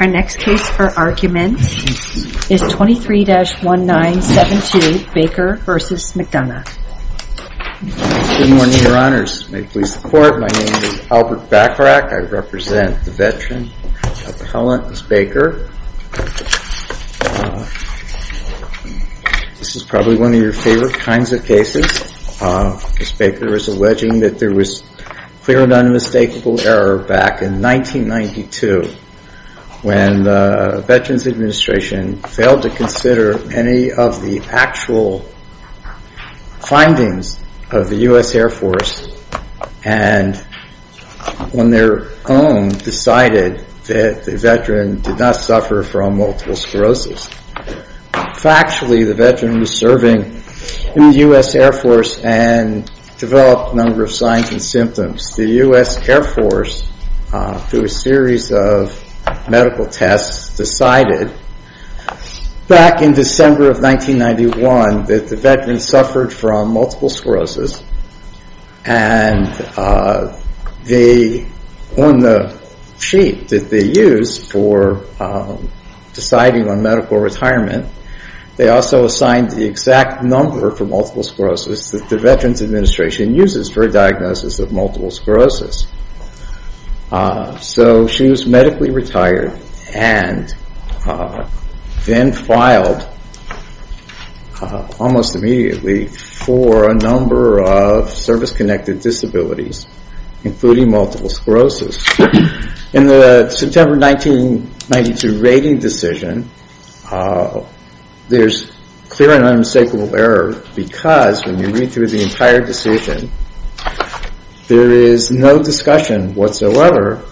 Our next case for argument is 23-1972 Baker v. McDonough Good morning your honors, may it please the court, my name is Albert Bachrach, I represent the veteran appellant Ms. Baker This is probably one of your favorite kinds of cases Ms. Baker is alleging that there was clear and unmistakable error back in 1992 when the Veterans Administration failed to consider any of the actual findings of the U.S. Air Force and on their own decided that the veteran did not suffer from multiple sclerosis Factually the veteran was serving in the U.S. Air Force and developed a number of signs and symptoms The U.S. Air Force through a series of medical tests decided back in December of 1991 that the veteran suffered from multiple sclerosis and on the sheet that they used for deciding on medical retirement they also assigned the exact number for multiple sclerosis that the Veterans Administration uses for a diagnosis of multiple sclerosis So she was medically retired and then filed almost immediately for a number of service-connected disabilities including multiple sclerosis. In the September 1992 rating decision there is clear and unmistakable error because when you read through the entire decision there is no discussion whatsoever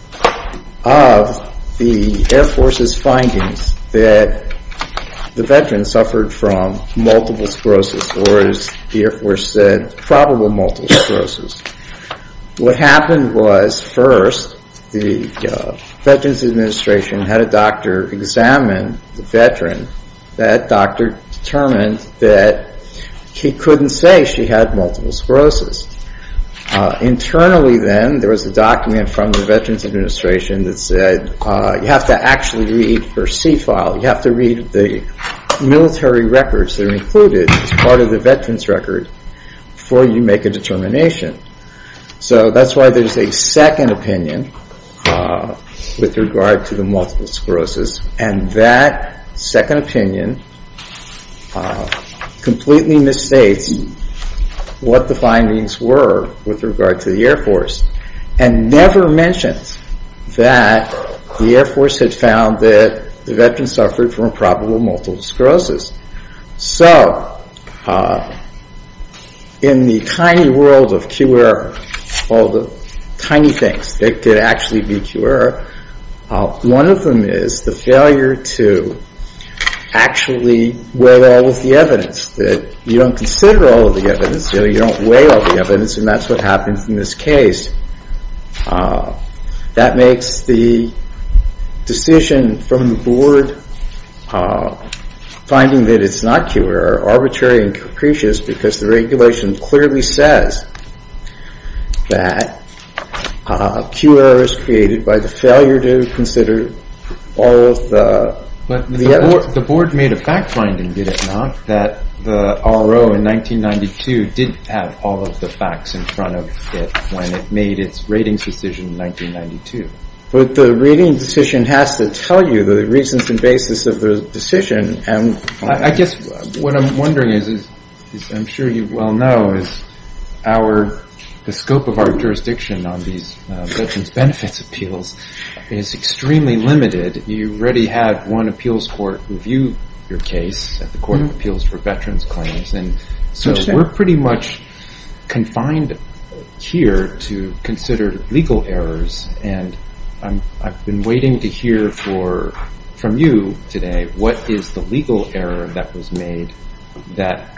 of the Air Force's findings that the veteran suffered from multiple sclerosis or as the Air Force said probable multiple sclerosis What happened was first the Veterans Administration had a doctor examine the veteran that doctor determined that he couldn't say she had multiple sclerosis Internally then there was a document from the Veterans Administration that said you have to actually read the military records that are included as part of the veterans record before you make a determination So that's why there is a second opinion with regard to the multiple sclerosis and that second opinion completely misstates what the findings were with regard to the Air Force and never mentions that the Air Force had found that the veteran suffered from probable multiple sclerosis So in the tiny world of QR, all the tiny things that could actually be QR one of them is the failure to actually weigh all of the evidence that you don't consider all of the evidence, you don't weigh all of the evidence and that's what happened in this case. That makes the decision from the board finding that it's not QR arbitrary and capricious because the regulation clearly says that QR is created by the failure to consider all of the evidence But the board made a fact finding, did it not, that the RO in 1992 didn't have all of the facts in front of it when it made its ratings decision in 1992 But the rating decision has to tell you the reasons and basis of the decision I guess what I'm wondering is, I'm sure you well know, is the scope of our jurisdiction on these veterans benefits appeals is extremely limited You already had one appeals court review your case at the Court of Appeals for Veterans Claims So we're pretty much confined here to consider legal errors I've been waiting to hear from you today, what is the legal error that was made that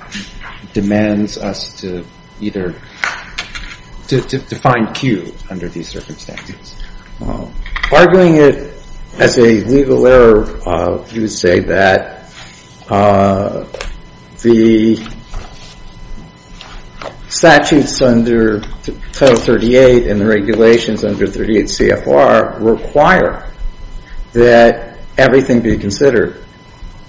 demands us to find Q under these circumstances Arguing it as a legal error, you would say that the statutes under Title 38 and the regulations under 38 CFR require that everything be considered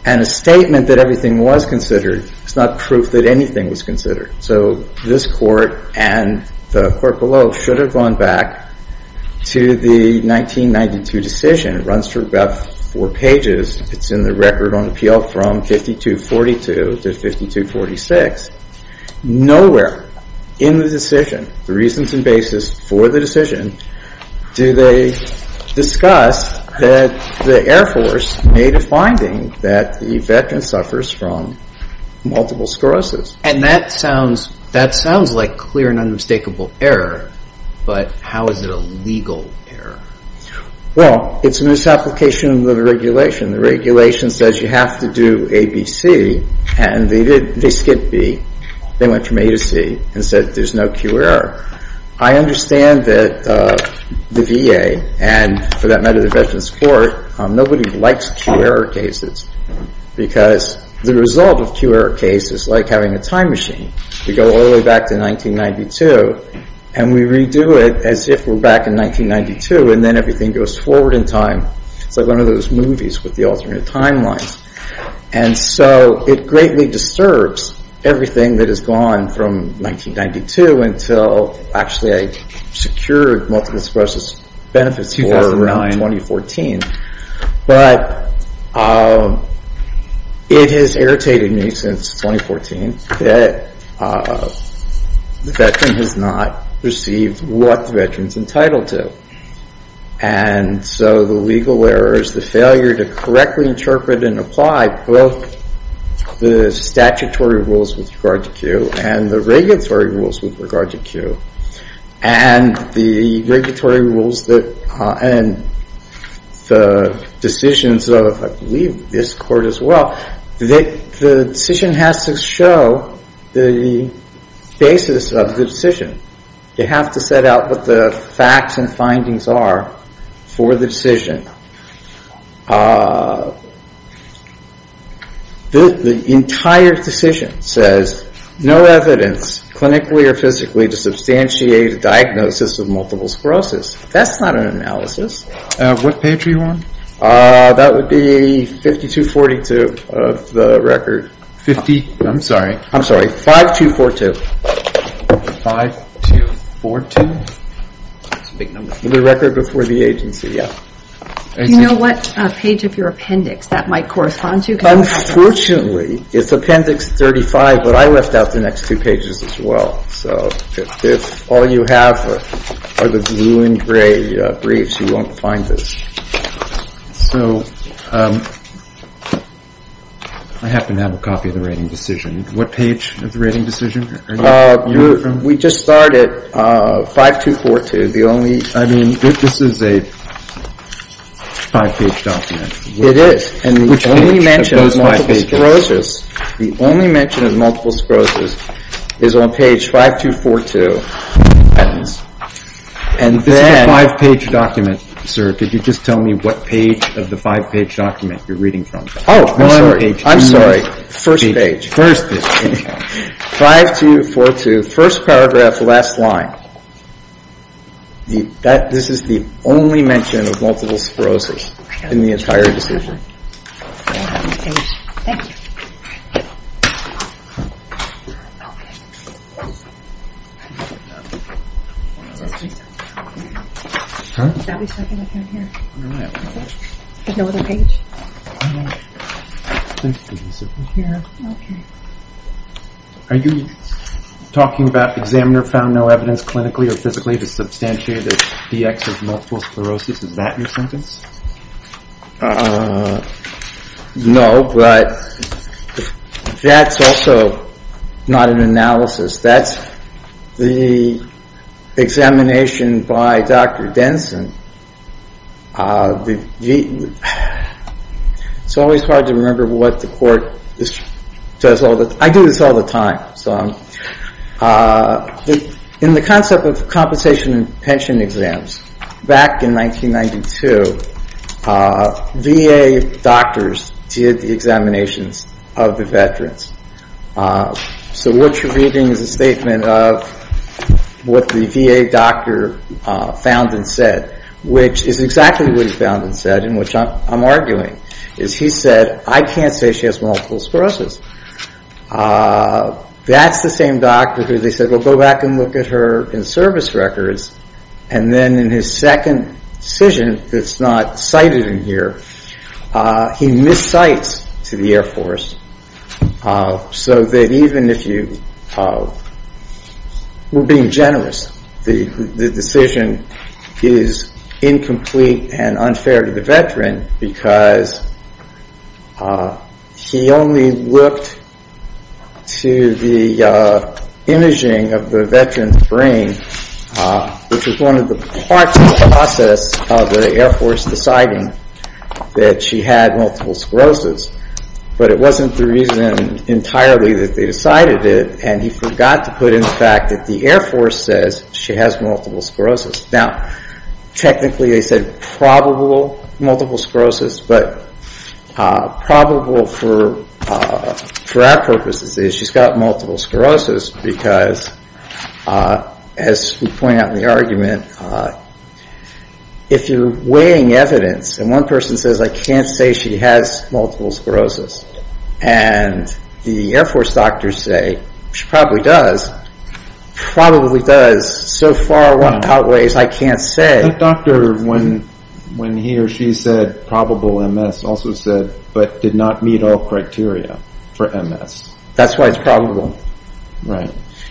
And a statement that everything was considered is not proof that anything was considered So this court and the court below should have gone back to the 1992 decision It runs for about four pages, it's in the record on appeal from 52-42 to 52-46 Nowhere in the decision, the reasons and basis for the decision do they discuss that the Air Force made a finding that the veteran suffers from multiple sclerosis And that sounds like clear and unmistakable error, but how is it a legal error? Well, it's a misapplication of the regulation The regulation says you have to do A, B, C, and they skipped B They went from A to C and said there's no Q error I understand that the VA and for that matter the Veterans Court, nobody likes Q error cases Because the result of Q error cases is like having a time machine We go all the way back to 1992 and we redo it as if we're back in 1992 And then everything goes forward in time It's like one of those movies with the alternate timelines And so it greatly disturbs everything that has gone from 1992 Until actually I secured multiple sclerosis benefits for around 2014 But it has irritated me since 2014 That the veteran has not received what the veteran is entitled to And so the legal error is the failure to correctly interpret and apply Both the statutory rules with regard to Q and the regulatory rules with regard to Q And the regulatory rules and the decisions of I believe this court as well The decision has to show the basis of the decision You have to set out what the facts and findings are for the decision The entire decision says no evidence clinically or physically To substantiate a diagnosis of multiple sclerosis That's not an analysis What page are you on? That would be 5242 of the record I'm sorry, 5242 5242? The record before the agency, yeah Do you know what page of your appendix that might correspond to? Unfortunately, it's appendix 35 But I left out the next two pages as well If all you have are the blue and gray briefs, you won't find this I happen to have a copy of the rating decision What page of the rating decision are you on? We just started 5242 I mean, this is a five-page document It is, and the only mention of multiple sclerosis The only mention of multiple sclerosis is on page 5242 This is a five-page document, sir Could you just tell me what page of the five-page document you're reading from? Oh, I'm sorry, I'm sorry First page 5242, first paragraph, last line This is the only mention of multiple sclerosis in the entire decision Thank you Are you talking about examiner found no evidence clinically or physically to substantiate the DX of multiple sclerosis? Is that your sentence? No, but that's also not an analysis That's the examination by Dr. Denson It's always hard to remember what the court does all the time I do this all the time In the concept of compensation and pension exams Back in 1992 VA doctors did the examinations of the veterans So what you're reading is a statement of what the VA doctor found and said Which is exactly what he found and said, and which I'm arguing He said, I can't say she has multiple sclerosis That's the same doctor who they said, we'll go back and look at her in service records And then in his second decision that's not cited in here He miscites to the Air Force So that even if you We're being generous The decision is incomplete and unfair to the veteran Because he only looked to the imaging of the veteran's brain Which is one of the parts of the process of the Air Force deciding that she had multiple sclerosis But it wasn't the reason entirely that they decided it And he forgot to put in the fact that the Air Force says she has multiple sclerosis Now technically they said probable multiple sclerosis But probable for our purposes is she's got multiple sclerosis Because as we point out in the argument If you're weighing evidence And one person says I can't say she has multiple sclerosis And the Air Force doctors say she probably does So far what outweighs I can't say That doctor when he or she said probable MS Also said but did not meet all criteria for MS That's why it's probable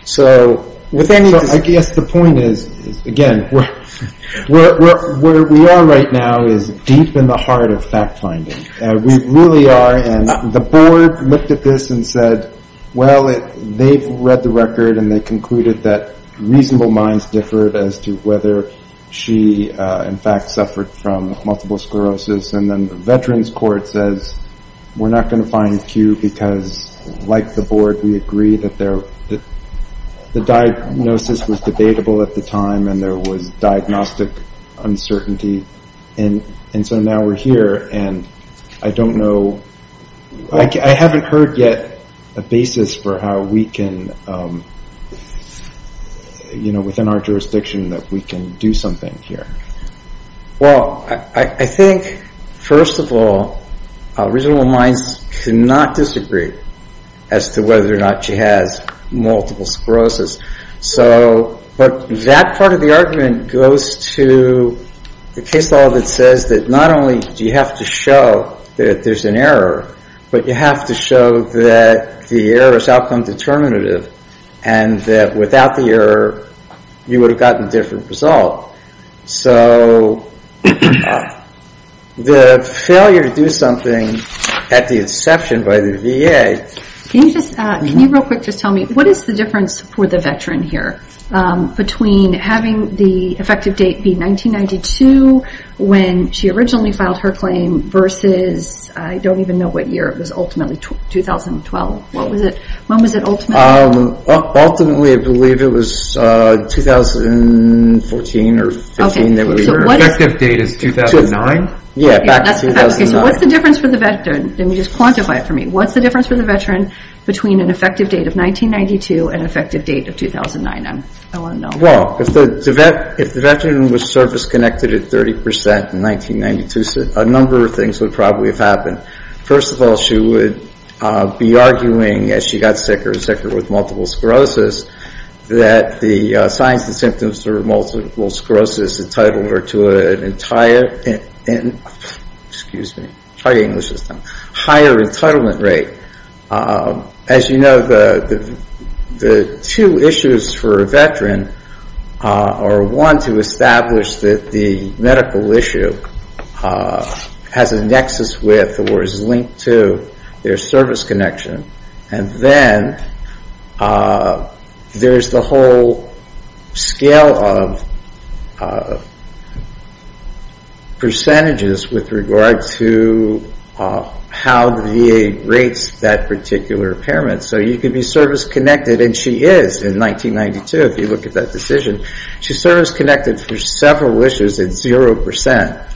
So I guess the point is again Where we are right now is deep in the heart of fact finding We really are and the board looked at this and said Well they've read the record and they concluded that reasonable minds differed As to whether she in fact suffered from multiple sclerosis And then the veterans court says we're not going to find Q Because like the board we agree that the diagnosis was debatable at the time And there was diagnostic uncertainty And so now we're here and I don't know I haven't heard yet a basis for how we can You know within our jurisdiction that we can do something here Well I think first of all reasonable minds cannot disagree As to whether or not she has multiple sclerosis So but that part of the argument goes to the case law That says that not only do you have to show that there's an error But you have to show that the error is outcome determinative And that without the error you would have gotten a different result So the failure to do something at the exception by the VA Can you real quick just tell me What is the difference for the veteran here Between having the effective date be 1992 When she originally filed her claim Versus I don't even know what year It was ultimately 2012 When was it ultimately? Ultimately I believe it was 2014 or 15 Effective date is 2009 So what's the difference for the veteran Let me just quantify it for me What's the difference for the veteran Between an effective date of 1992 And an effective date of 2009 Well if the veteran was surface connected at 30% in 1992 A number of things would probably have happened First of all she would be arguing As she got sicker and sicker with multiple sclerosis That the signs and symptoms of multiple sclerosis Entitled her to an entire Excuse me Try English this time Higher entitlement rate As you know the two issues for a veteran Are one to establish that the medical issue Has a nexus with or is linked to Their service connection And then there's the whole scale of With regard to how the VA rates that particular impairment So you could be service connected And she is in 1992 if you look at that decision She's service connected for several issues at 0%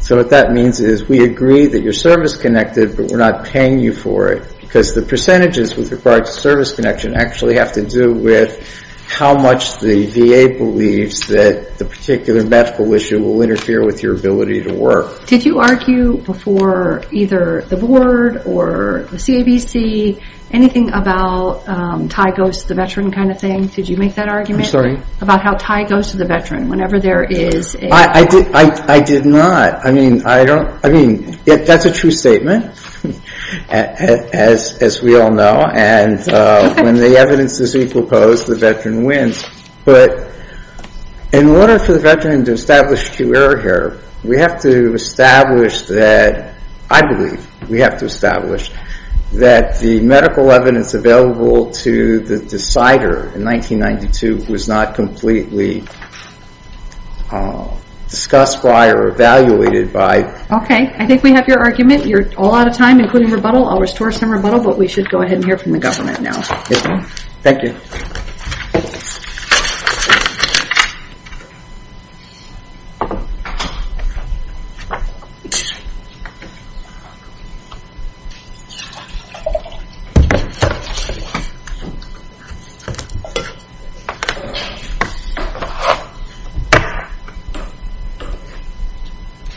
So what that means is We agree that you're service connected But we're not paying you for it Because the percentages with regard to service connection Actually have to do with How much the VA believes that The particular medical issue Will interfere with your ability to work Did you argue before either the board or the CABC Anything about Ty goes to the veteran kind of thing Did you make that argument? About how Ty goes to the veteran Whenever there is a I did not I mean that's a true statement As we all know And when the evidence is equal opposed The veteran wins But in order for the veteran To establish true error here We have to establish that I believe we have to establish That the medical evidence available To the decider in 1992 Was not completely discussed by Or evaluated by Okay I think we have your argument You're all out of time Including rebuttal I'll restore some rebuttal But we should go ahead And hear from the government now Thank you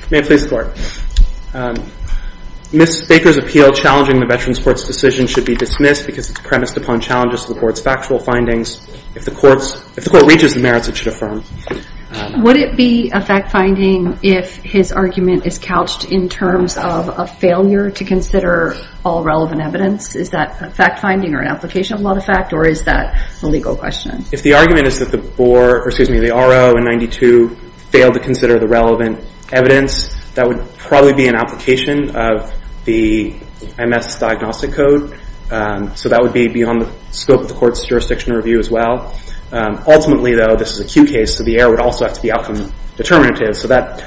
May it please the court Ms. Baker's appeal Challenging the veterans court's decision Should be dismissed Because it's premised upon Challenges to the court's factual findings If the court reaches the merits It should affirm Would it be a fact finding If his argument is couched In terms of a failure To consider all relevant evidence Is that a fact finding Or an application of a lot of fact Or is that a legal question? If the argument is that the RO in 1992 Failed to consider the relevant evidence That would probably be an application Of the MS diagnostic code So that would be beyond the scope Of the court's jurisdiction review as well Ultimately though This is a Q case So the error would also have to be outcome determinative So that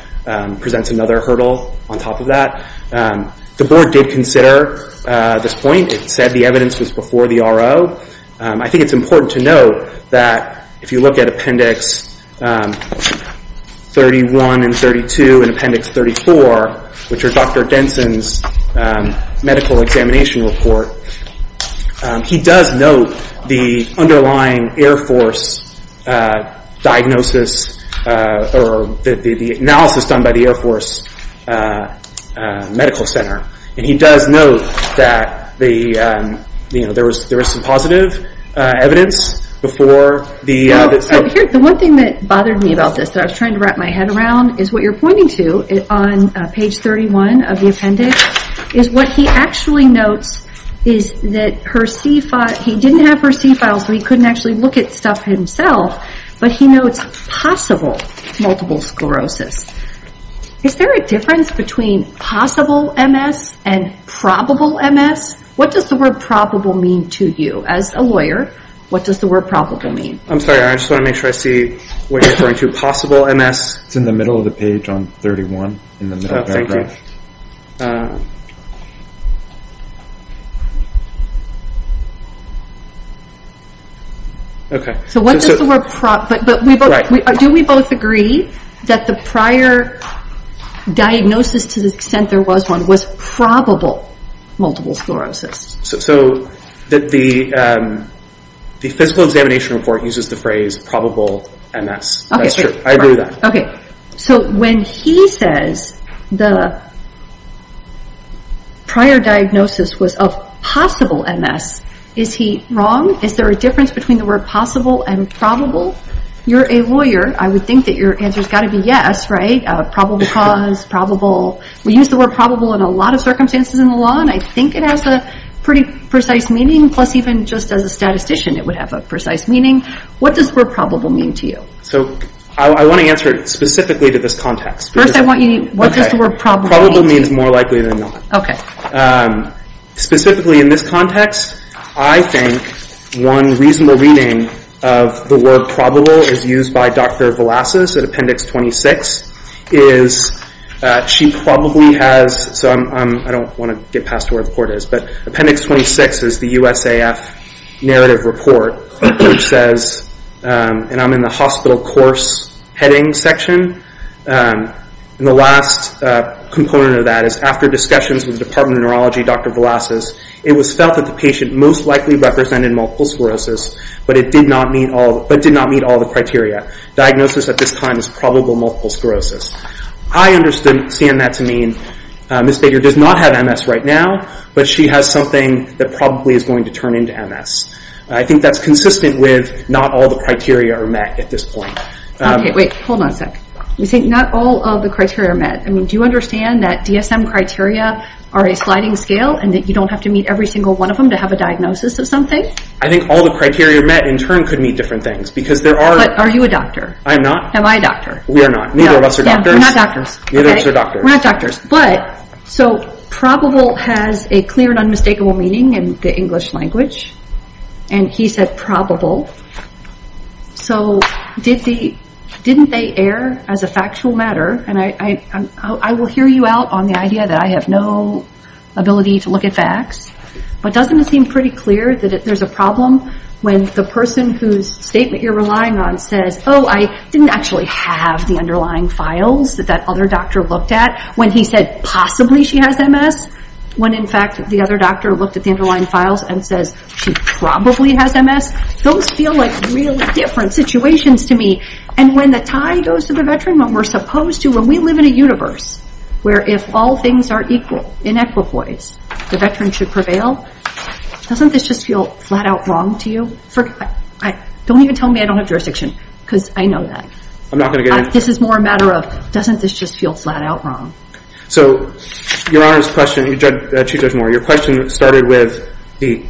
presents another hurdle On top of that The board did consider this point It said the evidence was before the RO I think it's important to note That if you look at appendix 31 and 32 And appendix 34 Which are Dr. Denson's medical examination report He does note the underlying air force Diagnosis Or the analysis done by the air force Medical center And he does note That there is some positive evidence Before the The one thing that bothered me about this That I was trying to wrap my head around Is what you're pointing to On page 31 of the appendix Is what he actually notes Is that he didn't have her C files So he couldn't actually look at stuff himself But he notes possible multiple sclerosis Is there a difference between possible MS And probable MS? What does the word probable mean to you? As a lawyer What does the word probable mean? I'm sorry I just want to make sure I see What you're referring to Possible MS It's in the middle of the page on 31 In the middle paragraph Thank you So what does the word probable mean? Do we both agree That the prior diagnosis To the extent there was one Was probable multiple sclerosis? So the physical examination report Uses the phrase probable MS That's true I agree with that So when he says The prior diagnosis was of possible MS Is he wrong? Is there a difference between The word possible and probable? You're a lawyer I would think that your answer Has got to be yes, right? Probable cause Probable We use the word probable In a lot of circumstances in the law And I think it has A pretty precise meaning Plus even just as a statistician It would have a precise meaning What does the word probable mean to you? So I want to answer it Specifically to this context First I want you What does the word probable mean to you? Okay Probable means more likely than not Okay Specifically in this context I think one reasonable reading Of the word probable Is used by Dr. Velazquez At appendix 26 Is she probably has So I don't want to get past Where the court is But appendix 26 is the USAF Narrative report Which says And I'm in the hospital course Heading section And the last component of that Is after discussions With the department of neurology Dr. Velazquez It was felt that the patient Most likely represented Multiple sclerosis But it did not meet all But did not meet all the criteria Diagnosis at this time Is probable multiple sclerosis I understand that to mean Ms. Baker does not have MS right now But she has something That probably is going to turn into MS I think that's consistent with Not all the criteria are met At this point Okay wait Hold on a sec You say not all of the criteria are met I mean do you understand That DSM criteria Are a sliding scale And that you don't have to meet Every single one of them To have a diagnosis of something I think all the criteria met In turn could mean different things Because there are But are you a doctor I'm not Am I a doctor We are not Neither of us are doctors We're not doctors Neither of us are doctors We're not doctors But so probable has A clear and unmistakable meaning In the English language And he said probable So didn't they air As a factual matter And I will hear you out On the idea that I have no Ability to look at facts But doesn't it seem pretty clear That there's a problem When the person whose Statement you're relying on Says oh I didn't actually have The underlying files That that other doctor looked at When he said possibly she has MS When in fact the other doctor Looked at the underlying files And says she probably has MS Those feel like really different Situations to me And when the tie goes to the veteran When we're supposed to When we live in a universe Where if all things are equal In equipoise The veteran should prevail Doesn't this just feel Flat out wrong to you Don't even tell me I don't have jurisdiction Because I know that I'm not going to get into This is more a matter of Doesn't this just feel Flat out wrong So your Honor's question Chief Judge Moore Your question started with The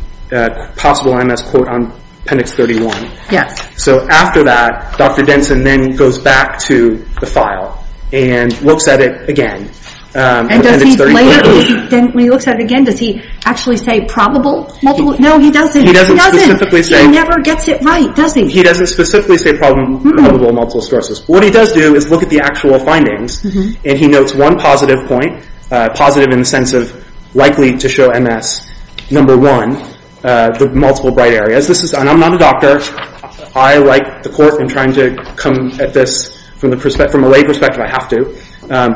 possible MS quote On appendix 31 Yes So after that Dr. Denson then goes back to The file And looks at it again And does he later When he looks at it again Does he actually say Probable multiple No he doesn't He doesn't He never gets it right Does he He doesn't specifically say Probable multiple sclerosis What he does do Is look at the actual findings And he notes one positive point Positive in the sense of Likely to show MS Number one The multiple bright areas And I'm not a doctor I write the court In trying to come at this From a lay perspective I have to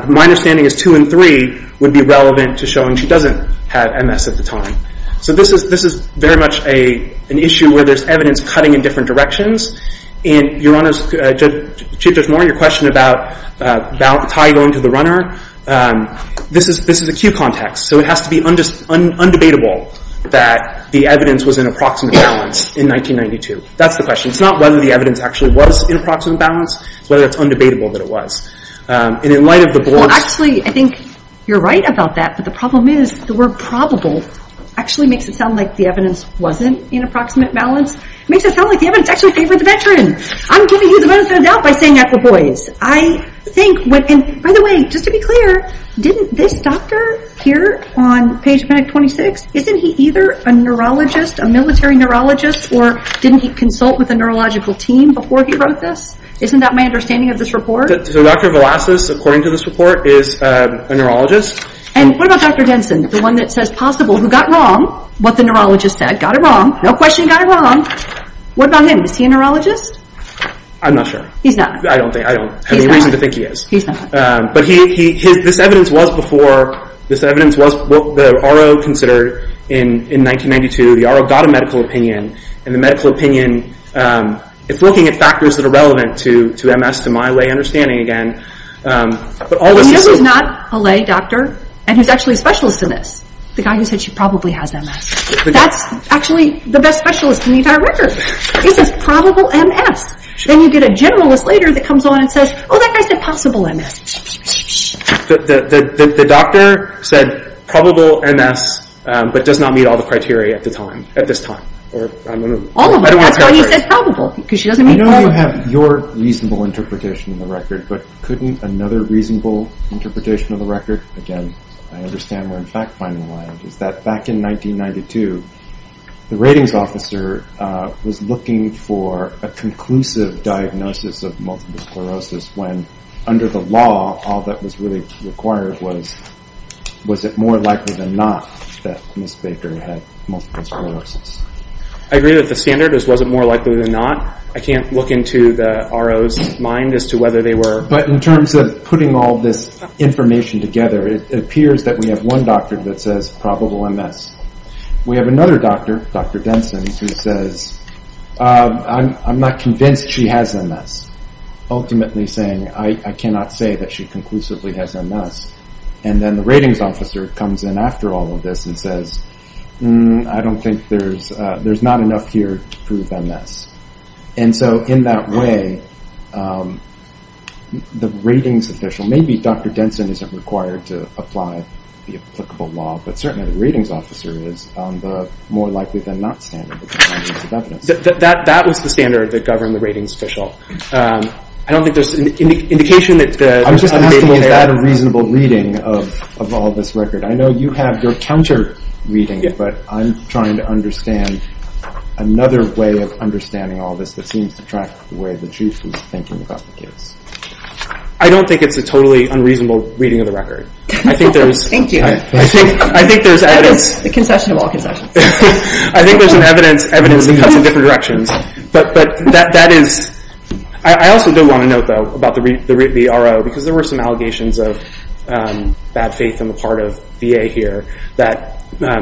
My understanding is Two and three Would be relevant to showing She doesn't have MS at the time So this is This is very much An issue where there's evidence Cutting in different directions And your Honor's Chief Judge Moore Your question about Ty going to the runner This is acute context So it has to be Undebatable That the evidence was in approximate balance In 1992 That's the question It's not whether the evidence Actually was in approximate balance It's whether it's undebatable That it was And in light of the board Well actually I think You're right about that But the problem is The word probable Actually makes it sound like The evidence wasn't In approximate balance It makes it sound like The evidence actually favored The veteran I'm giving you the benefit of the doubt By saying that for boys I think By the way Just to be clear Didn't this doctor Here on page 26 Isn't he either A neurologist A military neurologist Or didn't he consult With a neurological team Before he wrote this Isn't that my understanding Of this report So Dr. Velazquez According to this report Is a neurologist And what about Dr. Denson The one that says possible Who got wrong What the neurologist said Got it wrong No question got it wrong What about him Is he a neurologist I'm not sure He's not I don't think I don't have any reason To think he is He's not But he This evidence was before This evidence was The R.O. considered In 1992 The R.O. got a medical opinion And the medical opinion Is looking at factors That are relevant to To MS To my lay understanding Again But all the same You know who's not A lay doctor And who's actually A specialist in this The guy who said She probably has MS That's actually The best specialist In the entire record He says probable MS Then you get a generalist Later that comes on And says Oh that guy said Possible MS The doctor said Probable MS But does not meet All the criteria At the time At this time Or All of them That's why he said probable Because she doesn't Meet all of them I know you have Your reasonable Interpretation in the record But couldn't Another reasonable Interpretation of the record Again I understand We're in fact Finding a line Is that back in 1992 The ratings officer Was looking for A conclusive diagnosis Of multiple sclerosis When Under the law All that was really Required was Was it more likely Than not That Ms. Baker Had multiple sclerosis I agree that the standard Is was it more likely Than not I can't look into The R.O.'s mind As to whether They were But in terms of Putting all this Information together It appears that We have one doctor That says probable MS We have another doctor Dr. Denson Who says I'm not convinced She has MS Ultimately saying I cannot say That she conclusively Has MS And then the ratings Officer comes in After all of this And says I don't think There's There's not enough Here to prove MS And so in that way The R.O.'s mind Maybe Dr. Denson Isn't required To apply The applicable law But certainly the ratings Officer is On the More likely than not Standard That was the standard That governed the ratings Official I don't think There's an indication That the I'm just asking Was that a reasonable Reading of All this record I know you have Your counter Reading But I'm trying to Another way Of understanding All this That seems to track The way the Chief was thinking About the case I don't think It's a totally Unreasonable reading Of the record I think there's Thank you I think there's The concession Of all concessions I think there's Evidence In different directions But that is I also do want To note though About the R.O. Because there were Some allegations Of bad faith In the part of The VA here That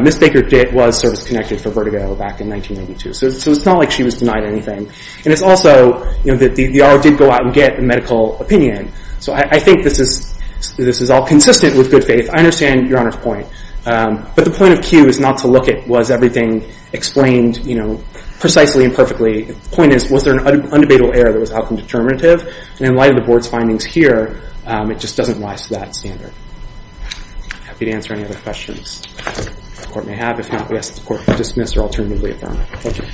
Ms. Baker Was service connected For vertigo Back in 1992 So it's not like She was denied Anything And it's also That the R.O. Did go out And get a medical Opinion So I think This is all Consistent with good faith I understand Your Honor's point But the point of Q Is not to look at Was everything Explained You know Precisely and perfectly The point is Was there an Undebatable error That was outcome Determinative And in light of The board's Findings here It just doesn't Rise to that Standard I'd be happy To answer any Other questions The court may have If not We ask the court To dismiss or Alternatively Adjourn Thank you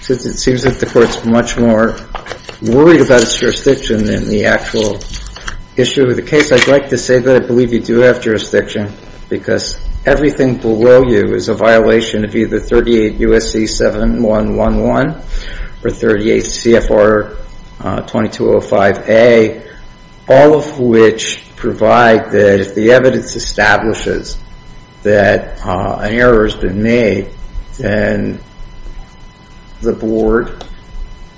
Since it seems That the court's Much more Worried about its Than the actual Issue of the case I'd like to say That I believe You do have Jurisdiction Because Everything below you Is a violation Of either 38 U.S.C. 7111 Or 38 C.F.R. 2205A All of which Provide that If the evidence Establishes That an error Has been made Then The board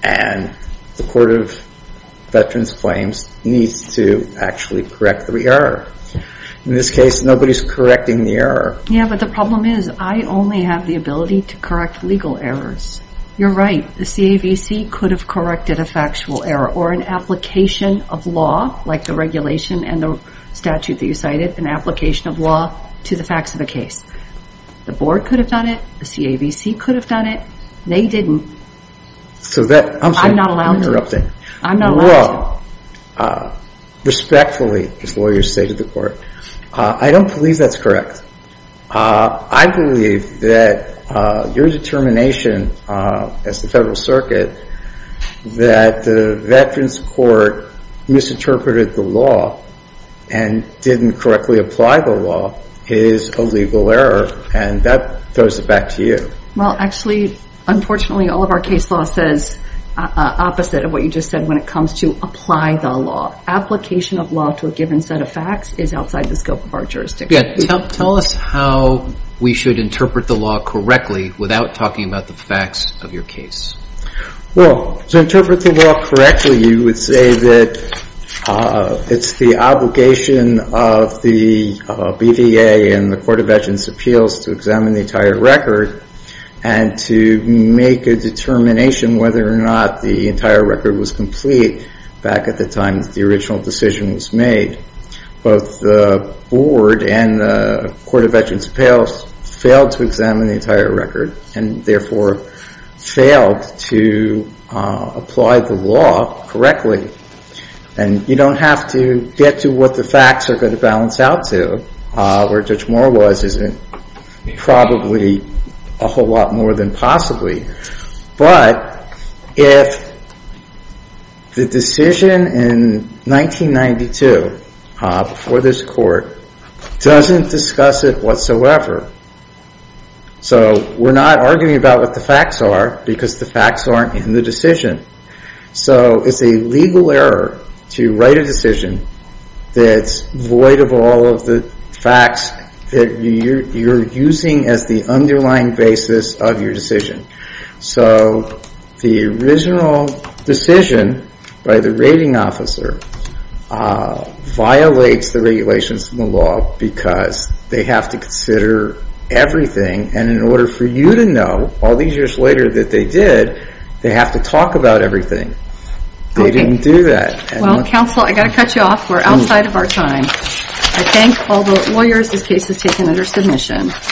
And the Court of Veterans claims Needs to Actually correct The error In this case Nobody is correcting The error Yeah but the Problem is I only have The ability To correct Legal errors You're right The C.A.V.C. Could have corrected A factual error Or an application Of law Like the regulation And the statute That you cited An application Of law To the facts Of the case The board Could have done it The C.A.V.C. Could have done it They didn't I'm sorry I'm interrupting I'm not allowed to Well Respectfully As lawyers Say to the court I don't believe That's correct I believe That Your determination As the Federal circuit That the Veterans court Misinterpreted The law And didn't Correctly Apply the Law Is a legal Error And that Throws it back To you Well actually Unfortunately All of our case Law says Opposite of what You just said When it comes To apply The law Application Of law To a given Set of facts Is outside The scope Of our Jurisdiction Tell us How We should Interpret the Law correctly Without talking About the facts Of your case Well To interpret The law Correctly You would Say that It's the Obligation Of the BVA And the Court of Veterans Appeals To examine The entire Record And to Make a Determination Whether or not The entire Record Was complete Back at the Time that The original Decision was made Both the Board and The Court of Veterans Appeals Failed to Examine the Entire record And therefore Failed to Apply the Correctly And you Don't have to Get to what The facts Are going to Balance out To Where Judge Moore was Probably A whole lot More than Possibly But If The Decision In 1992 Before this Court Doesn't Discuss It Whatsoever So We're not Arguing about What the Facts are Because the Facts aren't In the Decision So it's A legal Error To write A decision That's Void of All of The Facts That You're Using as The Underlying Basis Of Your Decision So The Original Decision By the Rating Officer Violates The Regulations From Because They Have to Consider Everything And In Order For You To Know All These Years Later That They Did They Have To Talk About Everything They Didn't Do That Well Counselor Have To Cut You Off We're Outside Of Our Time I Thank All The Lawyers This Case Is Taken Under Submission